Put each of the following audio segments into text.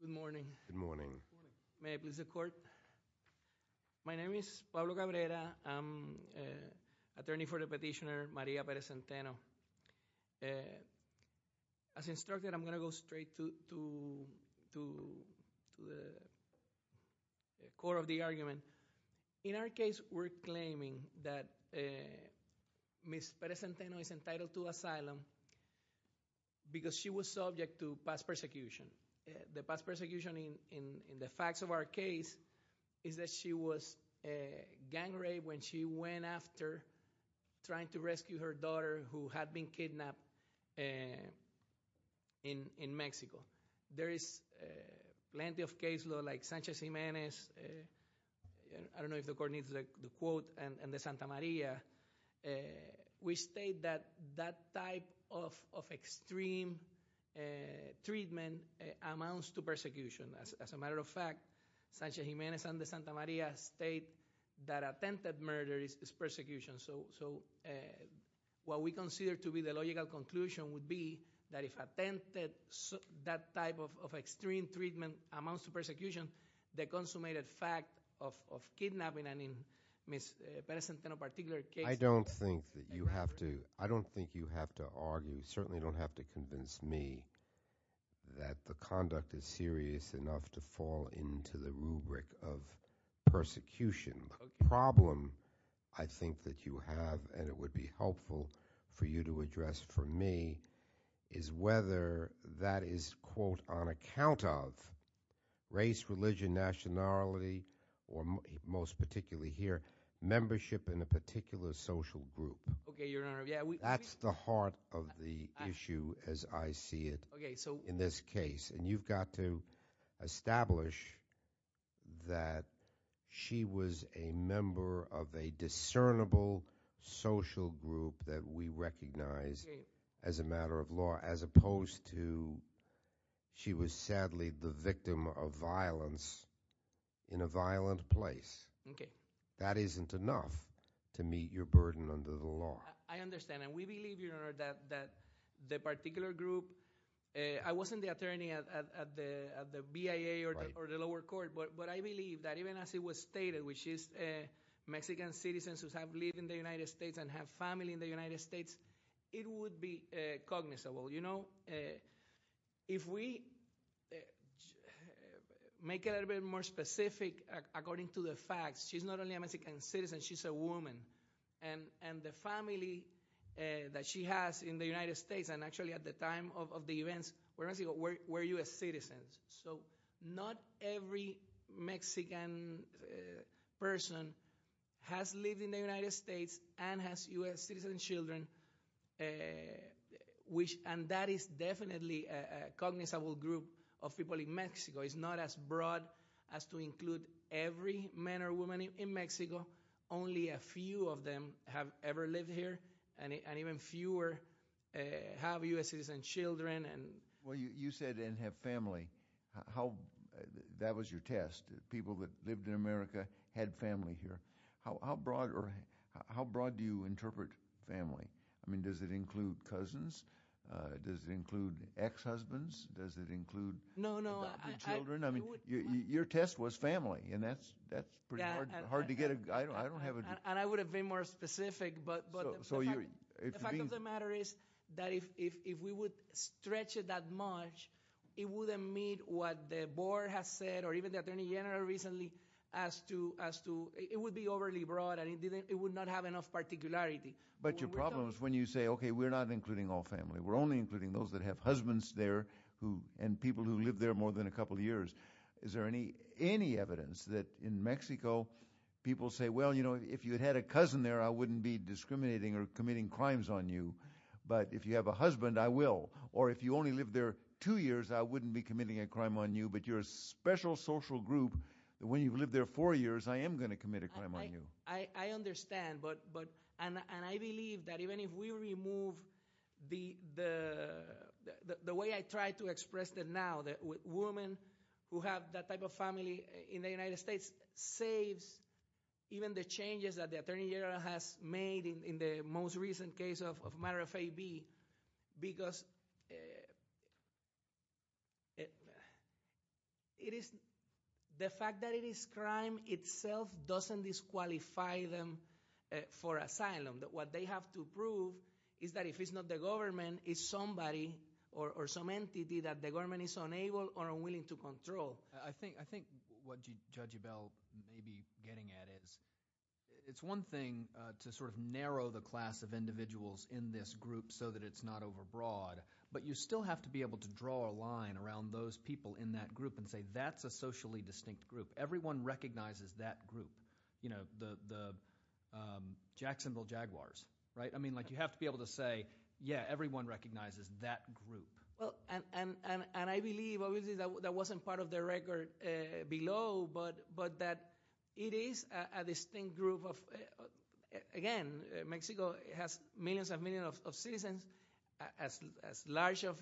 Good morning. May I please the court? My name is Pablo Cabrera. I'm attorney for the petitioner Maria Perez-Zenteno. As instructed, I'm going to go straight to the core of the argument. In our case, we're claiming that Ms. Perez-Zenteno is entitled to asylum because she was subject to past persecution. The past persecution in the facts of our case is that she was gang raped when she went after trying to rescue her daughter who had been kidnapped in Mexico. There is plenty of case law like Sanchez-Jimenez. I don't know if the court needs the quote, and the Santa Maria. We state that that type of extreme treatment amounts to persecution. As a matter of fact, Sanchez-Jimenez and the Santa Maria state that attempted murder is persecution. So what we consider to be the logical conclusion would be that if attempted, that type of extreme treatment amounts to persecution. The consummated fact of kidnapping and in Ms. Perez-Zenteno's particular case- I don't think that you have to argue, certainly don't have to convince me that the conduct is serious enough to fall into the rubric of persecution. The problem I think that you have, and it would be helpful for you to address for me, is whether that is, quote, on account of race, religion, nationality, or most particularly here, membership in a particular social group. That's the heart of the issue as I see it in this case. And you've got to establish that she was a member of a discernible social group that we recognize as a matter of law, as opposed to she was sadly the victim of violence in a violent place. That isn't enough to meet your burden under the law. I understand, and we believe, Your Honor, that the particular group. I wasn't the attorney at the BIA or the lower court, but I believe that even as it was stated, which is Mexican citizens who have lived in the United States and have family in the United States. It would be cognizable. If we make it a little bit more specific according to the facts. She's not only a Mexican citizen, she's a woman. And the family that she has in the United States, and actually at the time of the events, were US citizens. So not every Mexican person has lived in the United States and has US citizen children, and that is definitely a cognizable group of people in Mexico. It's not as broad as to include every man or woman, but very few of them have ever lived here, and even fewer have US citizen children. Well, you said they didn't have family, that was your test. People that lived in America had family here. How broad do you interpret family? I mean, does it include cousins? Does it include ex-husbands? Does it include adopted children? I mean, your test was family, and that's pretty hard to get a, I don't have a- And I would have been more specific, but the fact of the matter is that if we would stretch it that much, it wouldn't meet what the board has said, or even the Attorney General recently, as to. It would be overly broad, and it would not have enough particularity. But your problem is when you say, okay, we're not including all family. We're only including those that have husbands there, and people who live there more than a couple years. Is there any evidence that in Mexico, people say, well, if you had a cousin there, I wouldn't be discriminating or committing crimes on you. But if you have a husband, I will. Or if you only live there two years, I wouldn't be committing a crime on you, but you're a special social group, that when you've lived there four years, I am going to commit a crime on you. I understand, and I believe that even if we remove the way I try to express it now, that women who have that type of family in the United States, saves even the changes that the Attorney General has made in the most recent case of matter of AB. Because it is, the fact that it is crime itself doesn't disqualify them for asylum. What they have to prove is that if it's not the government, it's somebody or some entity that the government is unable or unwilling to control. I think what Judge Yabel may be getting at is, it's one thing to sort of narrow the class of individuals in this group so that it's not over broad. But you still have to be able to draw a line around those people in that group and say, that's a socially distinct group. Everyone recognizes that group. The Jacksonville Jaguars, right? I mean, you have to be able to say, yeah, everyone recognizes that group. Well, and I believe, obviously, that wasn't part of the record below, but that it is a distinct group of, again, Mexico has millions and millions of citizens as large of,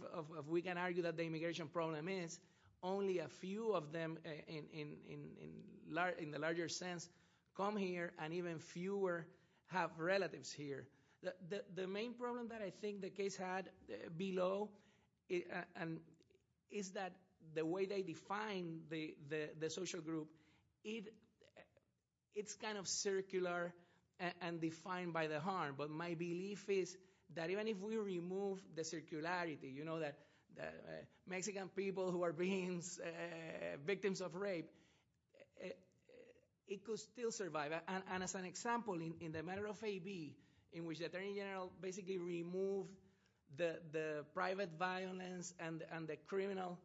we can argue that the immigration problem is, only a few of them, in the larger sense, come here and even fewer have relatives here. The main problem that I think the case had below is that the way they define the social group, it's kind of circular and defined by the harm. But my belief is that even if we remove the circularity, that Mexican people who are being victims of rape, it could still survive, and as an example, in the matter of AB, in which the Attorney General basically removed the private violence and the criminal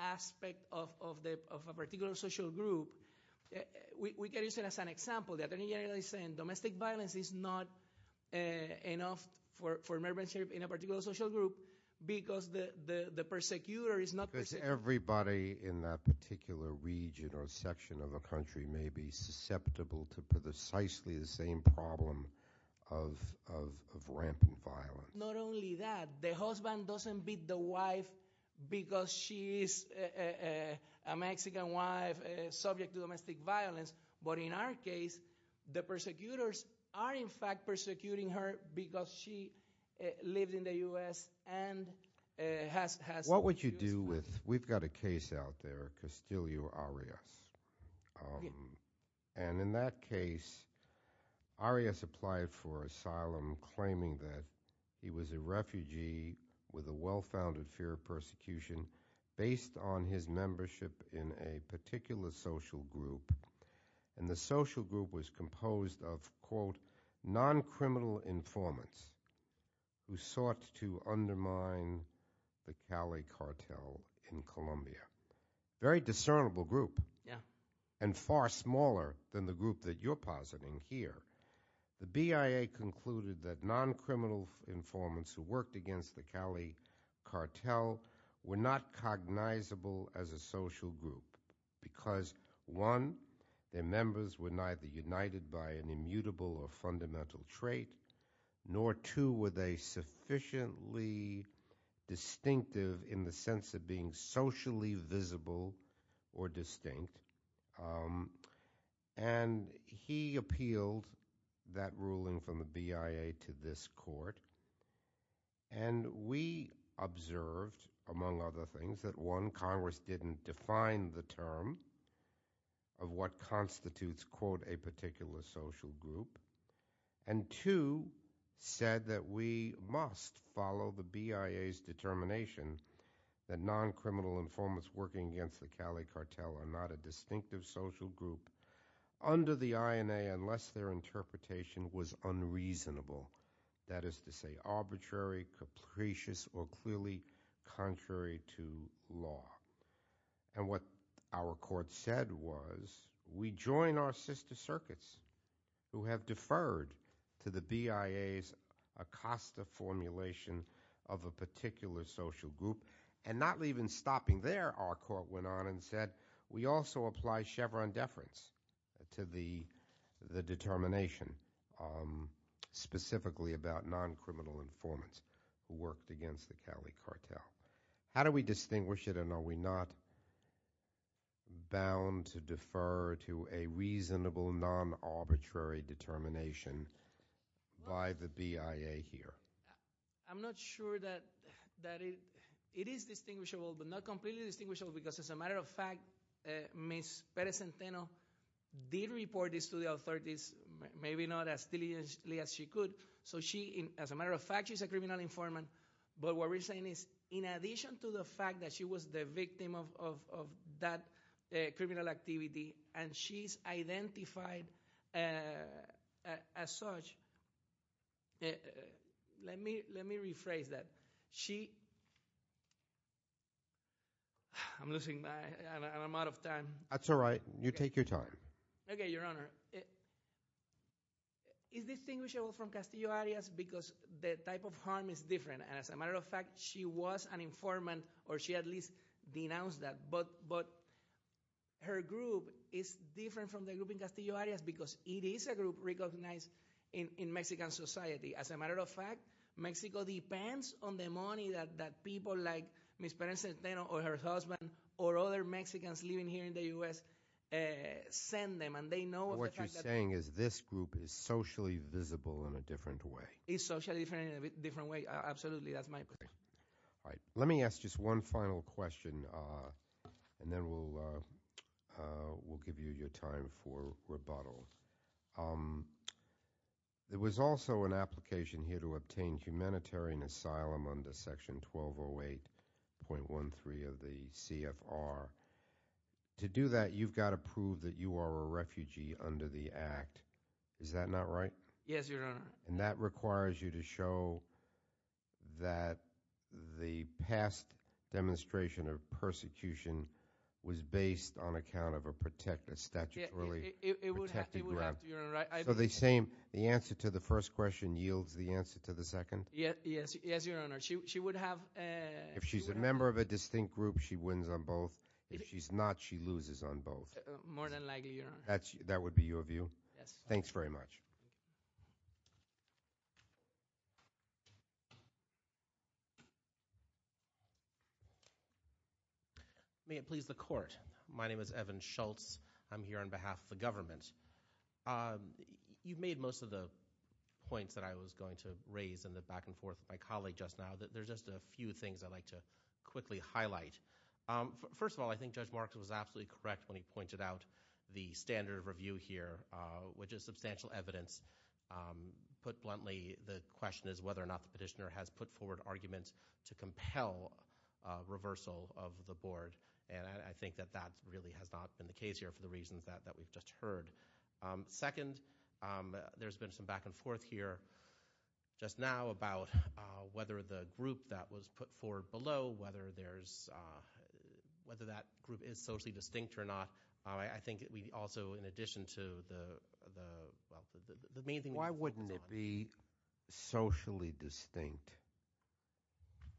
aspect of a particular social group, we can use it as an example. The Attorney General is saying domestic violence is not enough for membership in a particular social group because the persecutor is not- Because everybody in that particular region or section of a country may be susceptible to precisely the same problem of rampant violence. Not only that, the husband doesn't beat the wife because she is a Mexican wife subject to domestic violence, but in our case, the persecutors are in fact persecuting her because she lived in the US and has- What would you do with, we've got a case out there, Castillo Arias. And in that case, Arias applied for asylum claiming that he was a refugee with a well-founded fear of persecution. Based on his membership in a particular social group, and the social group was composed of, quote, non-criminal informants who sought to undermine the Cali cartel in Colombia. Very discernible group. Yeah. And far smaller than the group that you're positing here. The BIA concluded that non-criminal informants who worked against the Cali cartel were not cognizable as a social group. Because one, their members were neither united by an immutable or fundamental trait, nor two, were they sufficiently distinctive in the sense of being socially visible or distinct. And he appealed that ruling from the BIA to this court. And we observed, among other things, that one, Congress didn't define the term of what constitutes, quote, a particular social group. And two, said that we must follow the BIA's determination that non-criminal informants working against the Cali cartel are not a distinctive social group under the INA unless their interpretation was unreasonable. That is to say, arbitrary, capricious, or clearly contrary to law. And what our court said was, we join our sister circuits who have deferred to the BIA's Acosta formulation of a particular social group. And not even stopping there, our court went on and said, we also apply Chevron deference to the determination. Specifically about non-criminal informants who worked against the Cali cartel. How do we distinguish it and are we not bound to defer to a reasonable non-arbitrary determination by the BIA here? I'm not sure that it is distinguishable, but not completely distinguishable. Because as a matter of fact, Ms. Perez-Santeno did report this to the authorities. Maybe not as diligently as she could. So she, as a matter of fact, she's a criminal informant. But what we're saying is, in addition to the fact that she was the victim of that criminal activity and she's identified as such. Let me rephrase that. She, I'm losing my, and I'm out of time. That's all right. You take your time. Okay, your honor, is distinguishable from Castillo-Arias because the type of harm is different. And as a matter of fact, she was an informant or she at least denounced that. But her group is different from the group in Castillo-Arias because it is a group recognized in Mexican society. As a matter of fact, Mexico depends on the money that people like Ms. Perez-Santeno and Ms. Perez-Santeno in the US send them, and they know- What you're saying is this group is socially visible in a different way. It's socially visible in a different way, absolutely. That's my point. All right, let me ask just one final question, and then we'll give you your time for rebuttal. There was also an application here to obtain humanitarian asylum under section 1208.13 of the CFR. To do that, you've got to prove that you are a refugee under the act. Is that not right? Yes, your honor. And that requires you to show that the past demonstration of persecution was based on account of a protected, statutorily protected group. It would have to, your honor, I- So the same, the answer to the first question yields the answer to the second? Yes, your honor. She would have- If she's a member of a distinct group, she wins on both. If she's not, she loses on both. More than likely, your honor. That would be your view? Yes. Thanks very much. May it please the court. My name is Evan Schultz. I'm here on behalf of the government. You've made most of the points that I was going to raise in the back and forth of my colleague just now. There's just a few things I'd like to quickly highlight. First of all, I think Judge Marks was absolutely correct when he pointed out the standard of review here, which is substantial evidence. Put bluntly, the question is whether or not the petitioner has put forward arguments to compel reversal of the board. And I think that that really has not been the case here for the reasons that we've just heard. Second, there's been some back and forth here just now about whether the group that was put forward below, whether that group is socially distinct or not. I think we also, in addition to the main thing- Why wouldn't it be socially distinct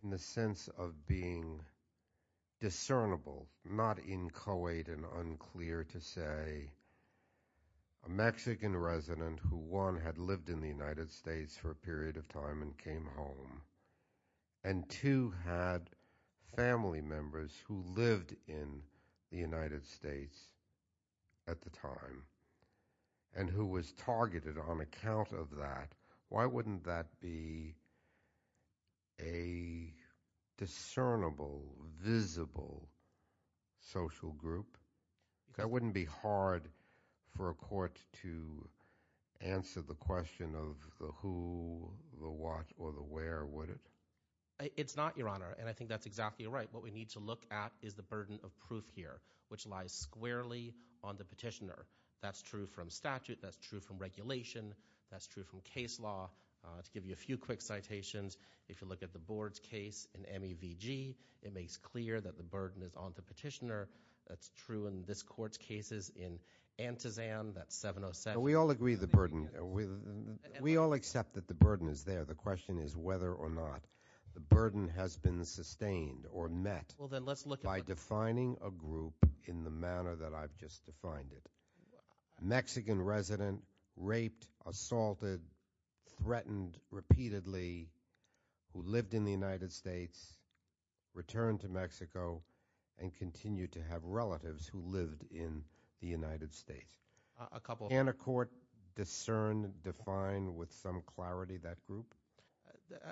in the sense of being discernible, not inchoate and unclear to say a Mexican resident who, one, had lived in the United States for a period of time and came home, and two, had family members who lived in the United States at the time and who was targeted on account of that? Why wouldn't that be a discernible, visible social group? That wouldn't be hard for a court to answer the question of the who, the what, or the where, would it? It's not, Your Honor, and I think that's exactly right. What we need to look at is the burden of proof here, which lies squarely on the petitioner. That's true from statute, that's true from regulation, that's true from case law. To give you a few quick citations, if you look at the board's case in MEVG, it makes clear that the burden is on the petitioner. That's true in this court's cases in Antizan, that 707- We all agree the burden, we all accept that the burden is there. The question is whether or not the burden has been sustained or met by defining a group in the manner that I've just defined it. Mexican resident, raped, assaulted, threatened repeatedly, who lived in the United States, returned to Mexico, and continued to have relatives who lived in the United States. Can a court discern, define with some clarity that group?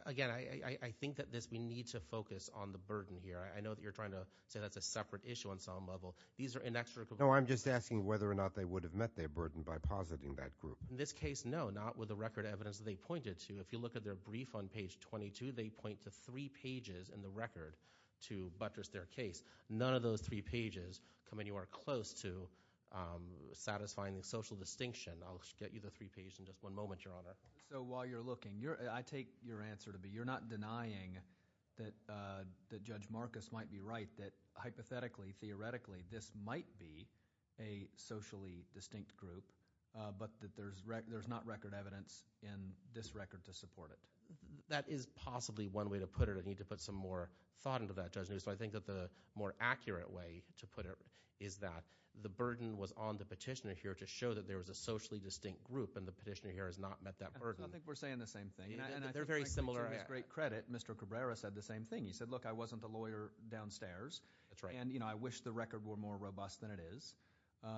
Again, I think that we need to focus on the burden here. I know that you're trying to say that's a separate issue on some level. These are inextricably- No, I'm just asking whether or not they would have met their burden by positing that group. In this case, no, not with the record evidence that they pointed to. If you look at their brief on page 22, they point to three pages in the record to buttress their case. None of those three pages come anywhere close to satisfying the social distinction. I'll get you the three pages in just one moment, Your Honor. So while you're looking, I take your answer to be you're not denying that Judge Marcus might be right, that hypothetically, theoretically, this might be a socially distinct group, but that there's not record evidence in this record to support it. That is possibly one way to put it. I need to put some more thought into that, Judge News. I think that the more accurate way to put it is that the burden was on the petitioner here to show that there was a socially distinct group, and the petitioner here has not met that burden. I think we're saying the same thing. They're very similar. And to his great credit, Mr. Cabrera said the same thing. He said, look, I wasn't a lawyer downstairs. That's right. And I wish the record were more robust than it is.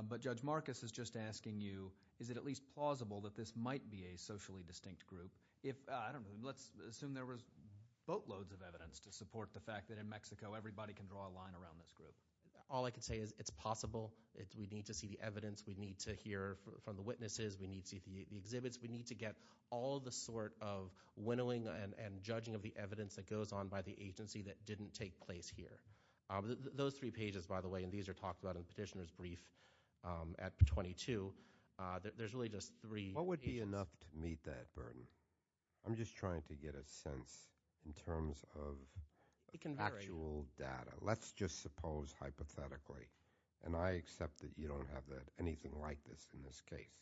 But Judge Marcus is just asking you, is it at least plausible that this might be a socially distinct group? If, I don't know, let's assume there was boatloads of evidence to support the fact that in Mexico, everybody can draw a line around this group. All I can say is it's possible. We need to see the evidence. We need to hear from the witnesses. We need to see the exhibits. We need to get all the sort of winnowing and judging of the evidence that goes on by the agency that didn't take place here. Those three pages, by the way, and these are talked about in the petitioner's brief at 22. There's really just three pages. What would be enough to meet that burden? I'm just trying to get a sense in terms of actual data. Let's just suppose, hypothetically, and I accept that you don't have anything like this in this case.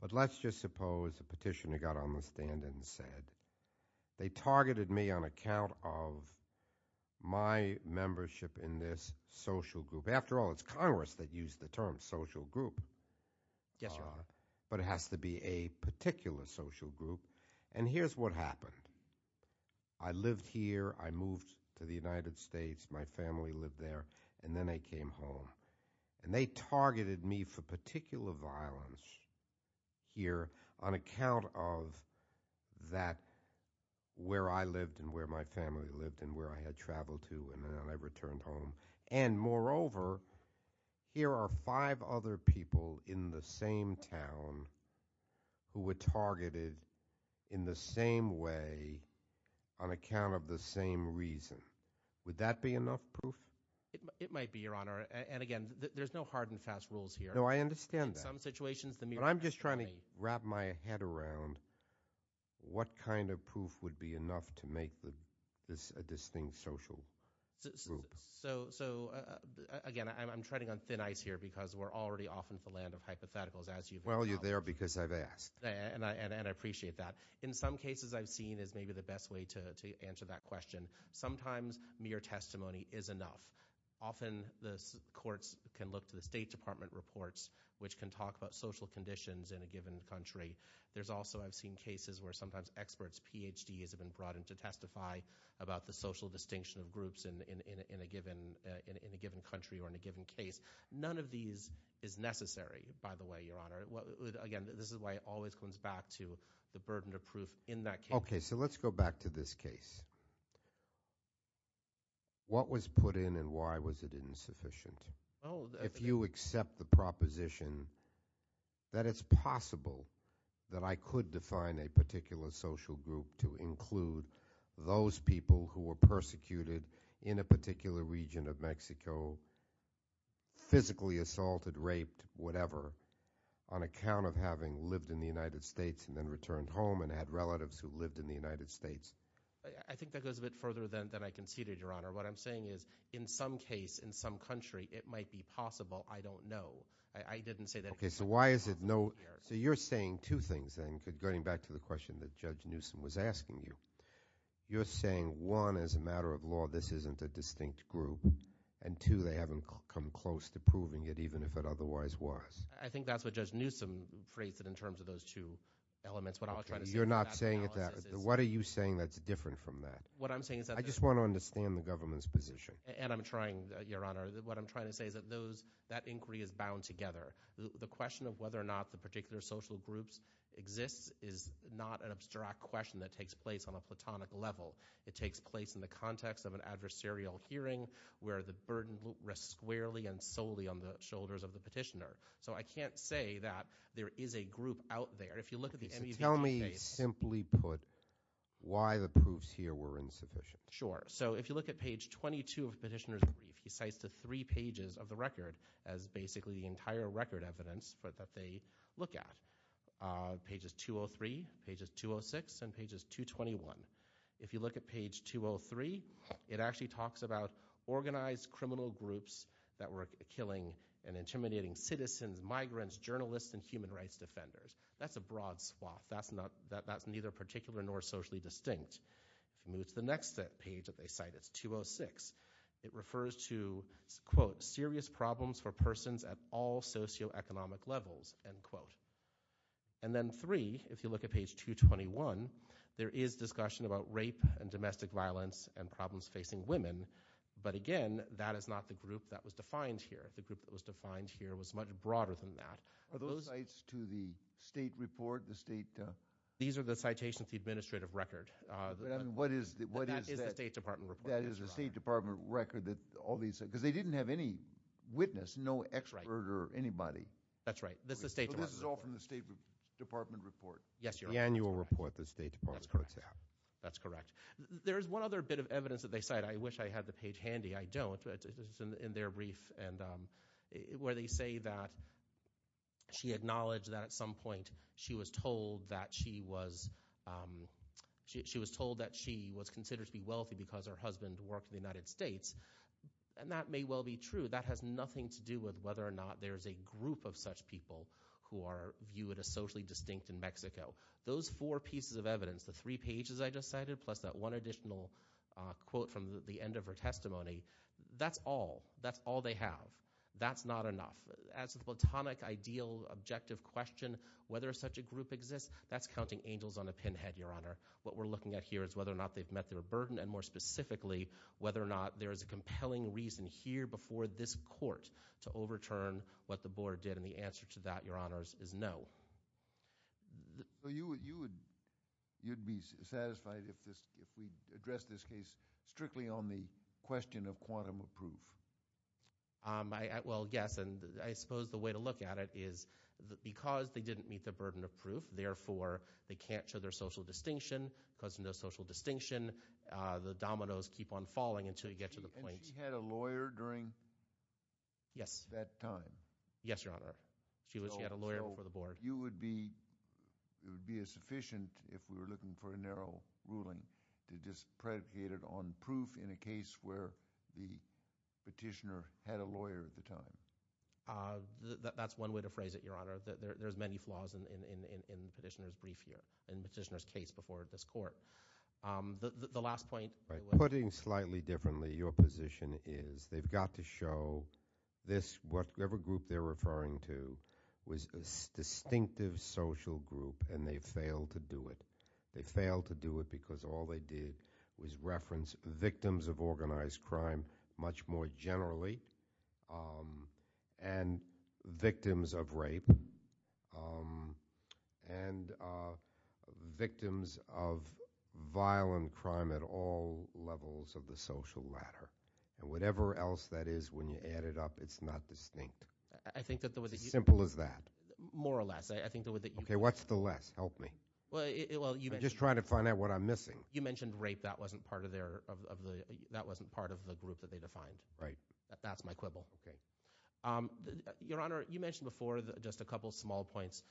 But let's just suppose a petitioner got on the stand and said, they targeted me on account of my membership in this social group. After all, it's Congress that used the term social group. Yes, Your Honor. But it has to be a particular social group. And here's what happened. I lived here, I moved to the United States, my family lived there, and then I came home. And they targeted me for particular violence here on account of that where I lived and where my family lived and where I had traveled to and then I returned home. And moreover, here are five other people in the same town who were targeted in the same way on account of the same reason. Would that be enough proof? It might be, Your Honor. And again, there's no hard and fast rules here. No, I understand that. In some situations, the mere testimony- I'm just trying to wrap my head around what kind of proof would be enough to make this a distinct social group. So again, I'm treading on thin ice here because we're already off into the land of hypotheticals as you've- Well, you're there because I've asked. And I appreciate that. In some cases, I've seen as maybe the best way to answer that question. Sometimes, mere testimony is enough. Often, the courts can look to the State Department reports, which can talk about social conditions in a given country. There's also, I've seen cases where sometimes experts, PhDs have been brought in to testify about the social distinction of groups in a given country or in a given case. None of these is necessary, by the way, Your Honor. Again, this is why it always comes back to the burden of proof in that case. Okay, so let's go back to this case. What was put in and why was it insufficient? If you accept the proposition that it's possible that I could define a particular social group to include those people who were persecuted in a particular region of Mexico, physically assaulted, raped, whatever, on account of having lived in the United States and then returned home and had relatives who lived in the United States. I think that goes a bit further than I conceded, Your Honor. What I'm saying is, in some case, in some country, it might be possible. I don't know. I didn't say that- Okay, so why is it no, so you're saying two things then, going back to the question that Judge Newsome was asking you. You're saying, one, as a matter of law, this isn't a distinct group, and two, they haven't come close to proving it, even if it otherwise was. I think that's what Judge Newsome phrased it in terms of those two elements. You're not saying that, what are you saying that's different from that? What I'm saying is that- I just want to understand the government's position. And I'm trying, Your Honor, what I'm trying to say is that that inquiry is bound together. The question of whether or not the particular social groups exists is not an abstract question that takes place on a platonic level. It takes place in the context of an adversarial hearing where the burden rests squarely and solely on the shoulders of the petitioner. So I can't say that there is a group out there. If you look at the- So tell me, simply put, why the proofs here were insufficient. Sure, so if you look at page 22 of the petitioner's brief, he cites the three pages of the record as basically the entire record evidence that they look at. Pages 203, pages 206, and pages 221. If you look at page 203, it actually talks about organized criminal groups that were killing and intimidating citizens, migrants, journalists, and human rights defenders. That's a broad swath. That's neither particular nor socially distinct. If you move to the next page that they cite, it's 206. It refers to, quote, serious problems for persons at all socioeconomic levels, end quote. And then three, if you look at page 221, there is discussion about rape and domestic violence and problems facing women, but again, that is not the group that was defined here. The group that was defined here was much broader than that. Are those cites to the state report, the state? These are the citations to the administrative record. And what is that? That is the State Department report. That is the State Department record that all these, because they didn't have any witness, no expert or anybody. That's right, that's the State Department report. So this is all from the State Department report? Yes, Your Honor. The annual report that the State Department puts out. That's correct. There's one other bit of evidence that they cite. I wish I had the page handy. I don't, but it's in their brief and where they say that she acknowledged that at some point she was told that she was. She was told that she was considered to be wealthy because her husband worked in the United States. And that may well be true. That has nothing to do with whether or not there's a group of such people who are viewed as socially distinct in Mexico. Those four pieces of evidence, the three pages I just cited, plus that one additional quote from the end of her testimony, that's all. That's all they have. That's not enough. As a platonic, ideal, objective question, whether such a group exists, that's counting angels on a pinhead, Your Honor. What we're looking at here is whether or not they've met their burden, and more specifically, whether or not there is a compelling reason here before this court to overturn what the board did. And the answer to that, Your Honors, is no. You would be satisfied if we addressed this case strictly on the question of quantum of proof? Well, yes, and I suppose the way to look at it is because they didn't meet the burden of proof, therefore they can't show their social distinction, because of no social distinction, the dominoes keep on falling until you get to the point. And she had a lawyer during that time? Yes, Your Honor. She had a lawyer before the board. You would be, it would be a sufficient, if we were looking for a narrow ruling, to just predicate it on proof in a case where the petitioner had a lawyer at the time? That's one way to phrase it, Your Honor. There's many flaws in the petitioner's brief here, in the petitioner's case before this court. The last point- Putting slightly differently, your position is they've got to show this, whatever group they're referring to, was a distinctive social group, and they failed to do it. They failed to do it because all they did was reference victims of organized crime much more generally, and victims of rape, and victims of violent crime at all levels of the social ladder. And whatever else that is, when you add it up, it's not distinct. Simple as that. More or less, I think the way that you- Okay, what's the less? Help me. Well, you- I'm just trying to find out what I'm missing. You mentioned rape, that wasn't part of the group that they defined. Right. That's my quibble. Okay. Your Honor, you mentioned before just a couple of small points,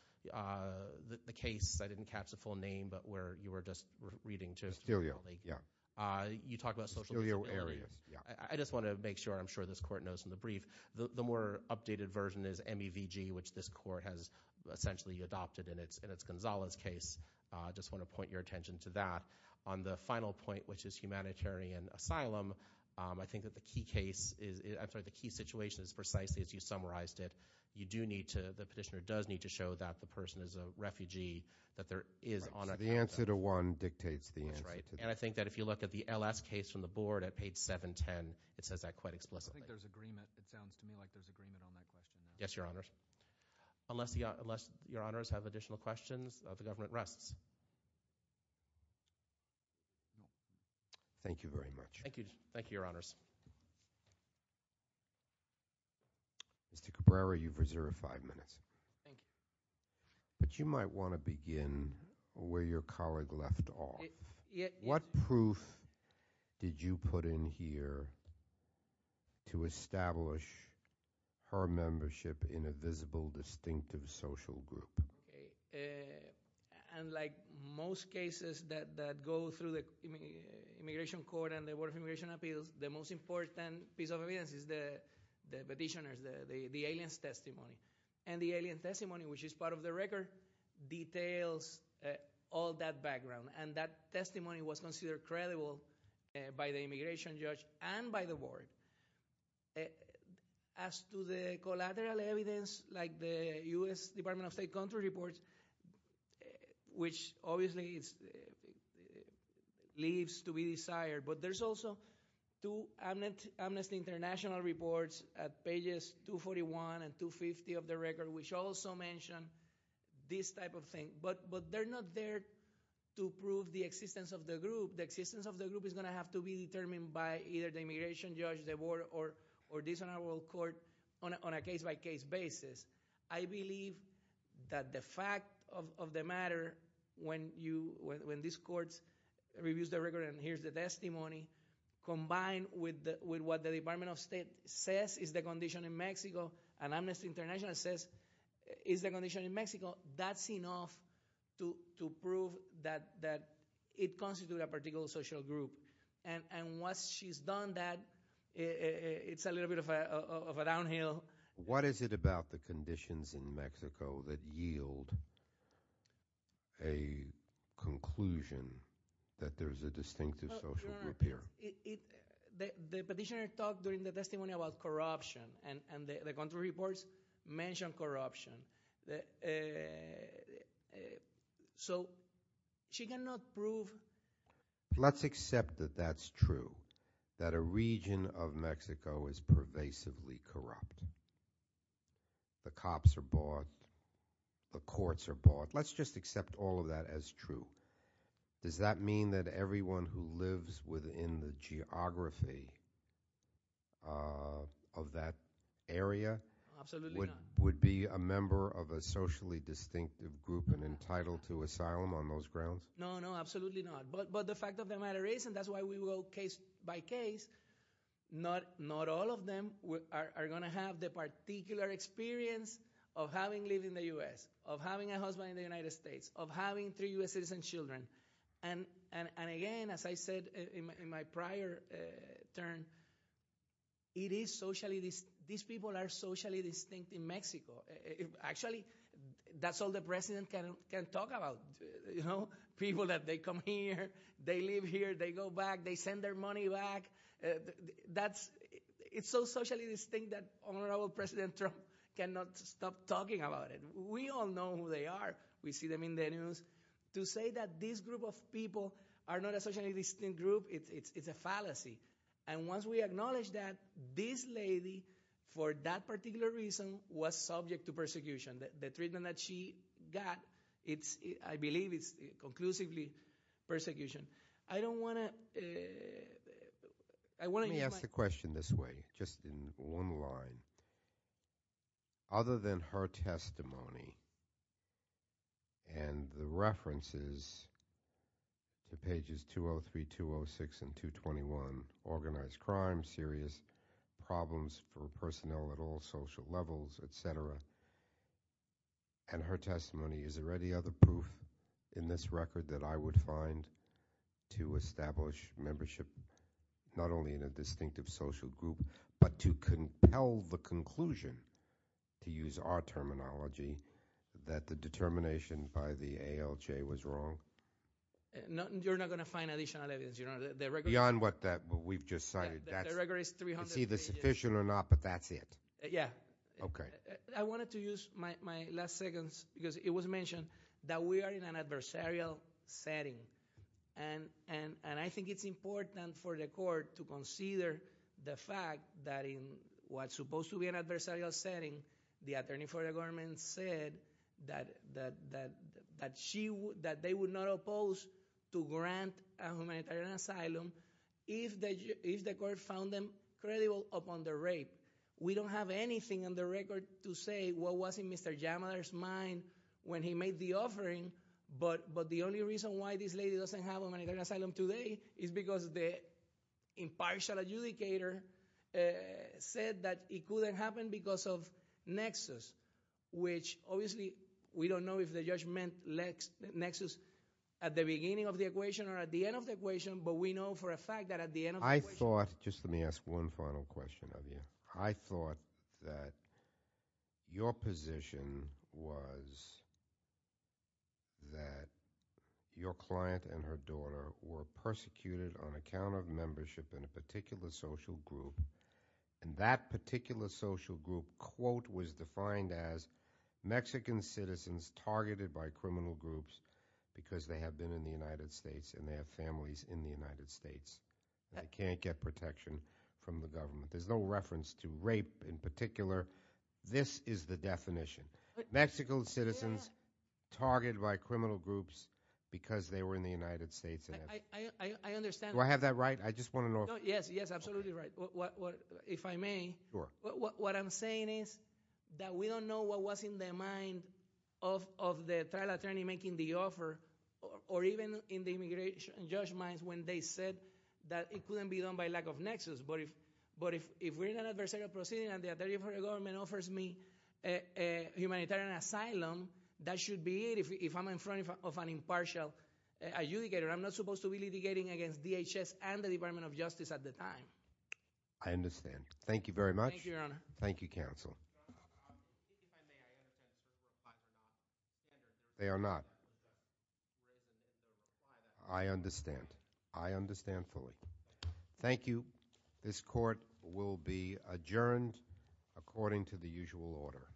the case, I didn't catch the full name, but where you were just reading to- Estelio, yeah. You talked about social- Estelio areas, yeah. I just want to make sure, I'm sure this court knows from the brief, the more updated version is MEVG, which this court has essentially adopted, and it's Gonzales' case. I just want to point your attention to that. On the final point, which is humanitarian asylum, I think that the key situation is precisely, as you summarized it, you do need to, the petitioner does need to show that the person is a refugee, that there is on a- The answer to one dictates the answer to the other. That's right, and I think that if you look at the LS case from the board at page 710, it says that quite explicitly. I think there's agreement. It sounds to me like there's agreement on that question. Yes, Your Honors. Unless Your Honors have additional questions, the government rests. Thank you very much. Thank you. Thank you, Your Honors. Mr. Cabrera, you've reserved five minutes. Thank you. But you might want to begin where your colleague left off. What proof did you put in here to establish her membership in a visible, distinctive social group? Okay, and like most cases that go through the Immigration Court and the Board of Immigration Appeals, the most important piece of evidence is the petitioner's, the alien's testimony. And the alien's testimony, which is part of the record, details all that background. And that testimony was considered credible by the immigration judge and by the board. As to the collateral evidence, like the US Department of State country reports, which obviously leaves to be desired. But there's also two Amnesty International reports at pages 241 and 250 of the record, which also mention this type of thing. But they're not there to prove the existence of the group. The existence of the group is going to have to be determined by either the immigration judge, the board, or this honorable court on a case-by-case basis. I believe that the fact of the matter, when this court reviews the record and hears the testimony, combined with what the Department of State says is the condition in Mexico, and Amnesty International says is the condition in Mexico, that's enough to prove that it constitutes a particular social group. And once she's done that, it's a little bit of a downhill. What is it about the conditions in Mexico that yield a conclusion that there's a distinctive social group here? The petitioner talked during the testimony about corruption, and the country reports mention corruption. So she cannot prove- Let's accept that that's true, that a region of Mexico is pervasively corrupt. The cops are bought, the courts are bought. Let's just accept all of that as true. Does that mean that everyone who lives within the geography of that area would be a member of a socially distinctive group and entitled to asylum on those grounds? No, no, absolutely not. But the fact of the matter is, and that's why we will case by case, not all of them are going to have the particular experience of having lived in the US, of having a husband in the United States, of having three US citizen children. And again, as I said in my prior turn, it is socially, these people are socially distinct in Mexico. Actually, that's all the president can talk about, you know? People that they come here, they live here, they go back, they send their money back. It's so socially distinct that honorable President Trump cannot stop talking about it. We all know who they are. We see them in the news. To say that this group of people are not a socially distinct group, it's a fallacy. And once we acknowledge that, this lady, for that particular reason, was subject to persecution. The treatment that she got, I believe it's conclusively persecution. I don't want to, I want to- Let me ask the question this way, just in one line. Other than her testimony, and the references to pages 203, 206, and 221, organized crime, serious problems for personnel at all social levels, etc. And her testimony, is there any other proof in this record that I would find to establish membership, not only in a distinctive social group, but to compel the conclusion, to use our terminology, that the determination by the ALJ was wrong? You're not going to find additional evidence, you're not, the record- Beyond what we've just cited, that's- The record is 300 pages. It's either sufficient or not, but that's it. Yeah. Okay. I wanted to use my last seconds, because it was mentioned that we are in an adversarial setting. And I think it's important for the court to consider the fact that in what's supposed to be an adversarial setting, the attorney for the government said that they would not oppose to grant a humanitarian asylum if the court found them credible upon the rape. We don't have anything on the record to say what was in Mr. Yamada's mind when he made the offering. But the only reason why this lady doesn't have a humanitarian asylum today is because the impartial adjudicator said that it couldn't happen because of nexus, which obviously, we don't know if the judge meant nexus at the beginning of the equation or at the end of the equation. But we know for a fact that at the end of the equation- I thought, just let me ask one final question of you. I thought that your position was that your client and her daughter were persecuted on account of membership in a particular social group. And that particular social group, quote, was defined as Mexican citizens targeted by criminal groups. Because they have been in the United States and they have families in the United States that can't get protection from the government. There's no reference to rape in particular. This is the definition. Mexico's citizens targeted by criminal groups because they were in the United States. I understand. Do I have that right? I just want to know. Yes, yes, absolutely right. If I may. Sure. What I'm saying is that we don't know what was in their mind of the trial attorney making the offer. Or even in the immigration judge minds when they said that it couldn't be done by lack of nexus. But if we're in an adversarial proceeding and the other government offers me a humanitarian asylum, that should be it if I'm in front of an impartial adjudicator. I'm not supposed to be litigating against DHS and the Department of Justice at the time. I understand. Thank you very much. Thank you, Your Honor. Thank you, counsel. Sir, if I may, I understand if you're applying or not. They are not. I understand. I understand fully. Thank you. This court will be adjourned according to the usual order.